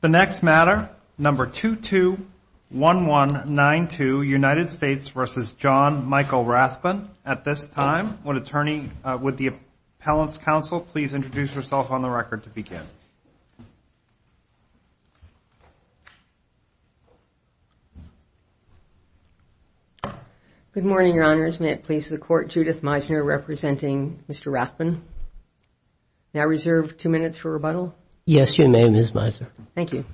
The next matter, number 221192, United States v. John Michael Rathbun. At this time, would the appellant's counsel please introduce herself on the record to begin? Good morning, Your Honors. May it please the Court, Judith Meisner representing Mr. Rathbun. May I reserve two minutes for rebuttal? Yes, you may, Ms. Meisner. Thank you.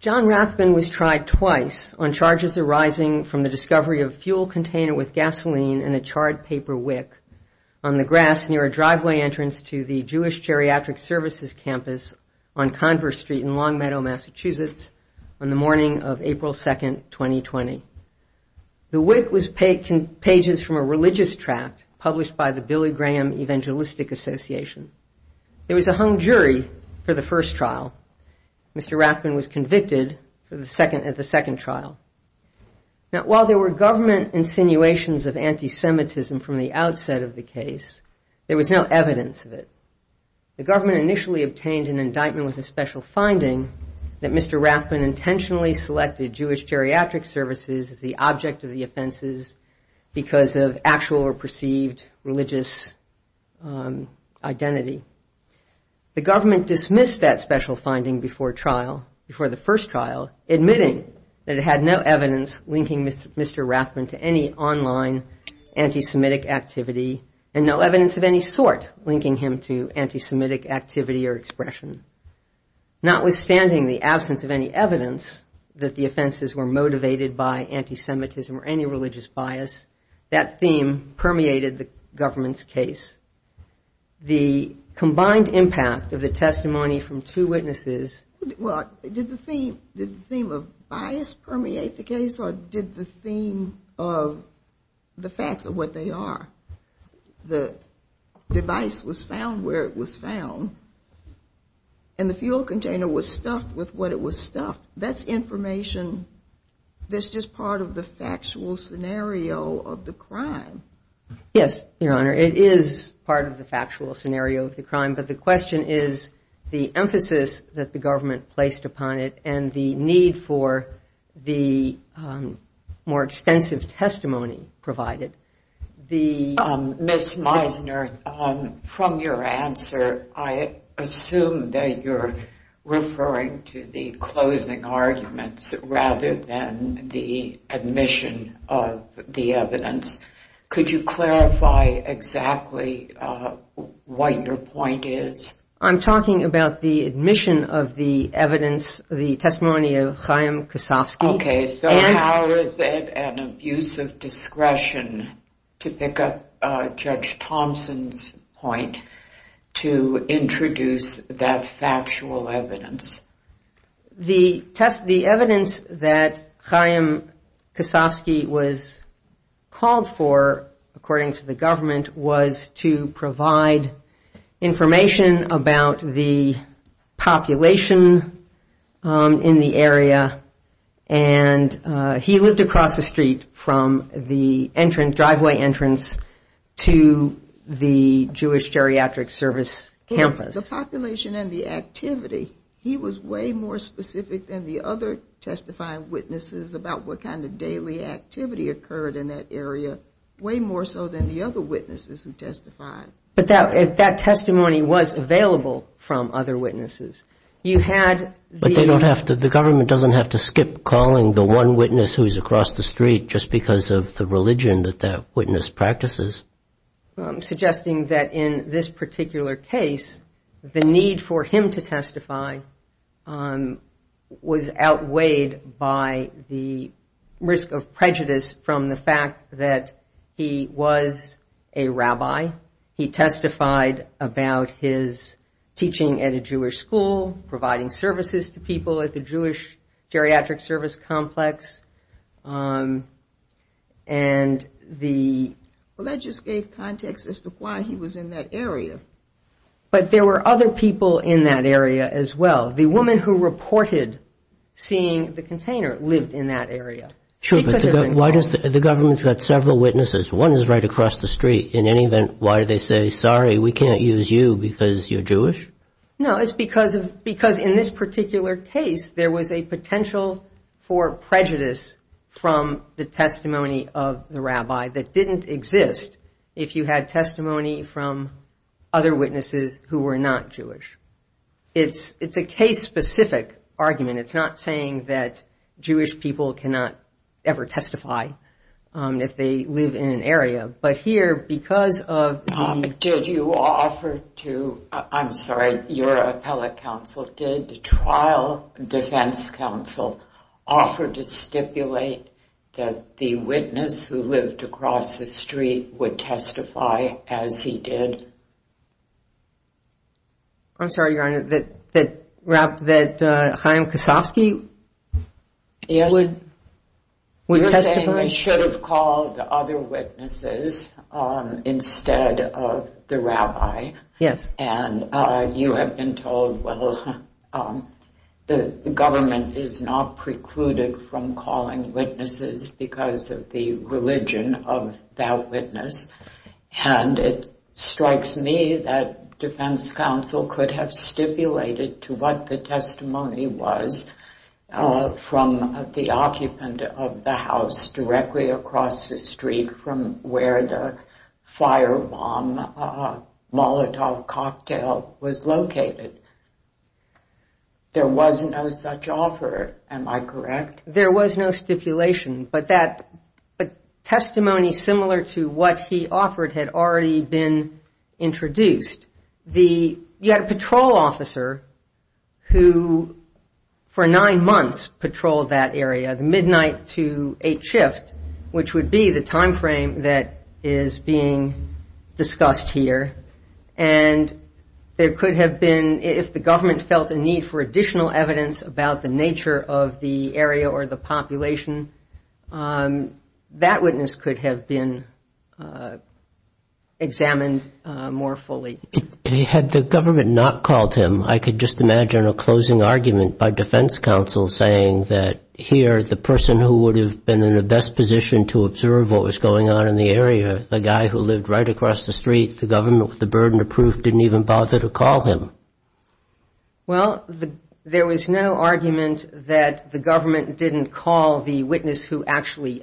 John Rathbun was tried twice on charges arising from the discovery of a fuel container with gasoline and a charred paper wick on the grass near a driveway entrance to the Jewish Geriatric Services Campus on Converse Street in Longmeadow, Massachusetts, on the morning of April 2, 2020. The wick was pages from a religious tract published by the Billy Graham Evangelistic Association. There was a hung jury for the first trial. Mr. Rathbun was convicted at the second trial. Now, while there were government insinuations of anti-Semitism from the outset of the case, there was no evidence of it. The government initially obtained an indictment with a special finding that Mr. Rathbun intentionally selected Jewish Geriatric Services as the object of the offenses because of actual or perceived religious identity. The government dismissed that special finding before trial, before the first trial, admitting that it had no evidence linking Mr. Rathbun to any online anti-Semitic activity and no evidence of any sort linking him to anti-Semitic activity or expression. Notwithstanding the absence of any evidence that the offenses were motivated by anti-Semitism or any religious bias, that theme permeated the government's case. The combined impact of the testimony from two witnesses... Well, did the theme of bias permeate the case or did the theme of the facts of what they are? The device was found where it was found and the fuel container was stuffed with what it was stuffed. That's information that's just part of the factual scenario of the crime. Yes, Your Honor. It is part of the factual scenario of the crime, but the question is the emphasis that the government placed upon it and the need for the more extensive testimony provided. Ms. Meisner, from your answer, I assume that you're referring to the closing arguments rather than the admission of the evidence. Could you clarify exactly what your point is? I'm talking about the admission of the evidence, the testimony of Chaim Kosofsky. Okay, so how is it an abuse of discretion to pick up Judge Thompson's point to introduce that factual evidence? The evidence that Chaim Kosofsky was called for, according to the government, was to provide information about the population in the area. And he lived across the street from the driveway entrance to the Jewish geriatric service campus. The population and the activity, he was way more specific than the other testifying witnesses about what kind of daily activity occurred in that area, way more so than the other witnesses who testified. But that testimony was available from other witnesses. But the government doesn't have to skip calling the one witness who's across the street just because of the religion that that witness practices. Suggesting that in this particular case, the need for him to testify was outweighed by the other witnesses. The risk of prejudice from the fact that he was a rabbi. He testified about his teaching at a Jewish school, providing services to people at the Jewish geriatric service complex. And the... But there were other people in that area as well. Sure, but the government's got several witnesses. One is right across the street. In any event, why do they say, sorry, we can't use you because you're Jewish? No, it's because in this particular case, there was a potential for prejudice from the testimony of the rabbi that didn't exist. If you had testimony from other witnesses who were not Jewish. It's a case specific argument. It's not saying that Jewish people cannot ever testify if they live in an area. But here, because of... Did you offer to, I'm sorry, your appellate counsel, did the trial defense counsel offer to stipulate that the witness who lived across the street would testify as he did? I'm sorry, Your Honor, that Chaim Kasofsky would testify? You're saying they should have called the other witnesses instead of the rabbi? Yes. And you have been told, well, the government is not precluded from calling witnesses because of the religion of that witness. And it strikes me that defense counsel could have stipulated to what the testimony was from the occupant of the house directly across the street from where the firebomb Molotov cocktail was located. There was no such offer, am I correct? There was no stipulation, but that testimony similar to what he offered had already been introduced. You had a patrol officer who, for nine months, patrolled that area, the midnight to 8th shift, which would be the time frame that is being discussed here. And there could have been, if the government felt a need for additional evidence about the nature of the area or the location of the firebomb Molotov or the population, that witness could have been examined more fully. Had the government not called him, I could just imagine a closing argument by defense counsel saying that here the person who would have been in the best position to observe what was going on in the area, the guy who lived right across the street, the government with the burden of proof, didn't even bother to call him. Well, there was no argument that the government didn't call the witness who actually observed what was going on in the area.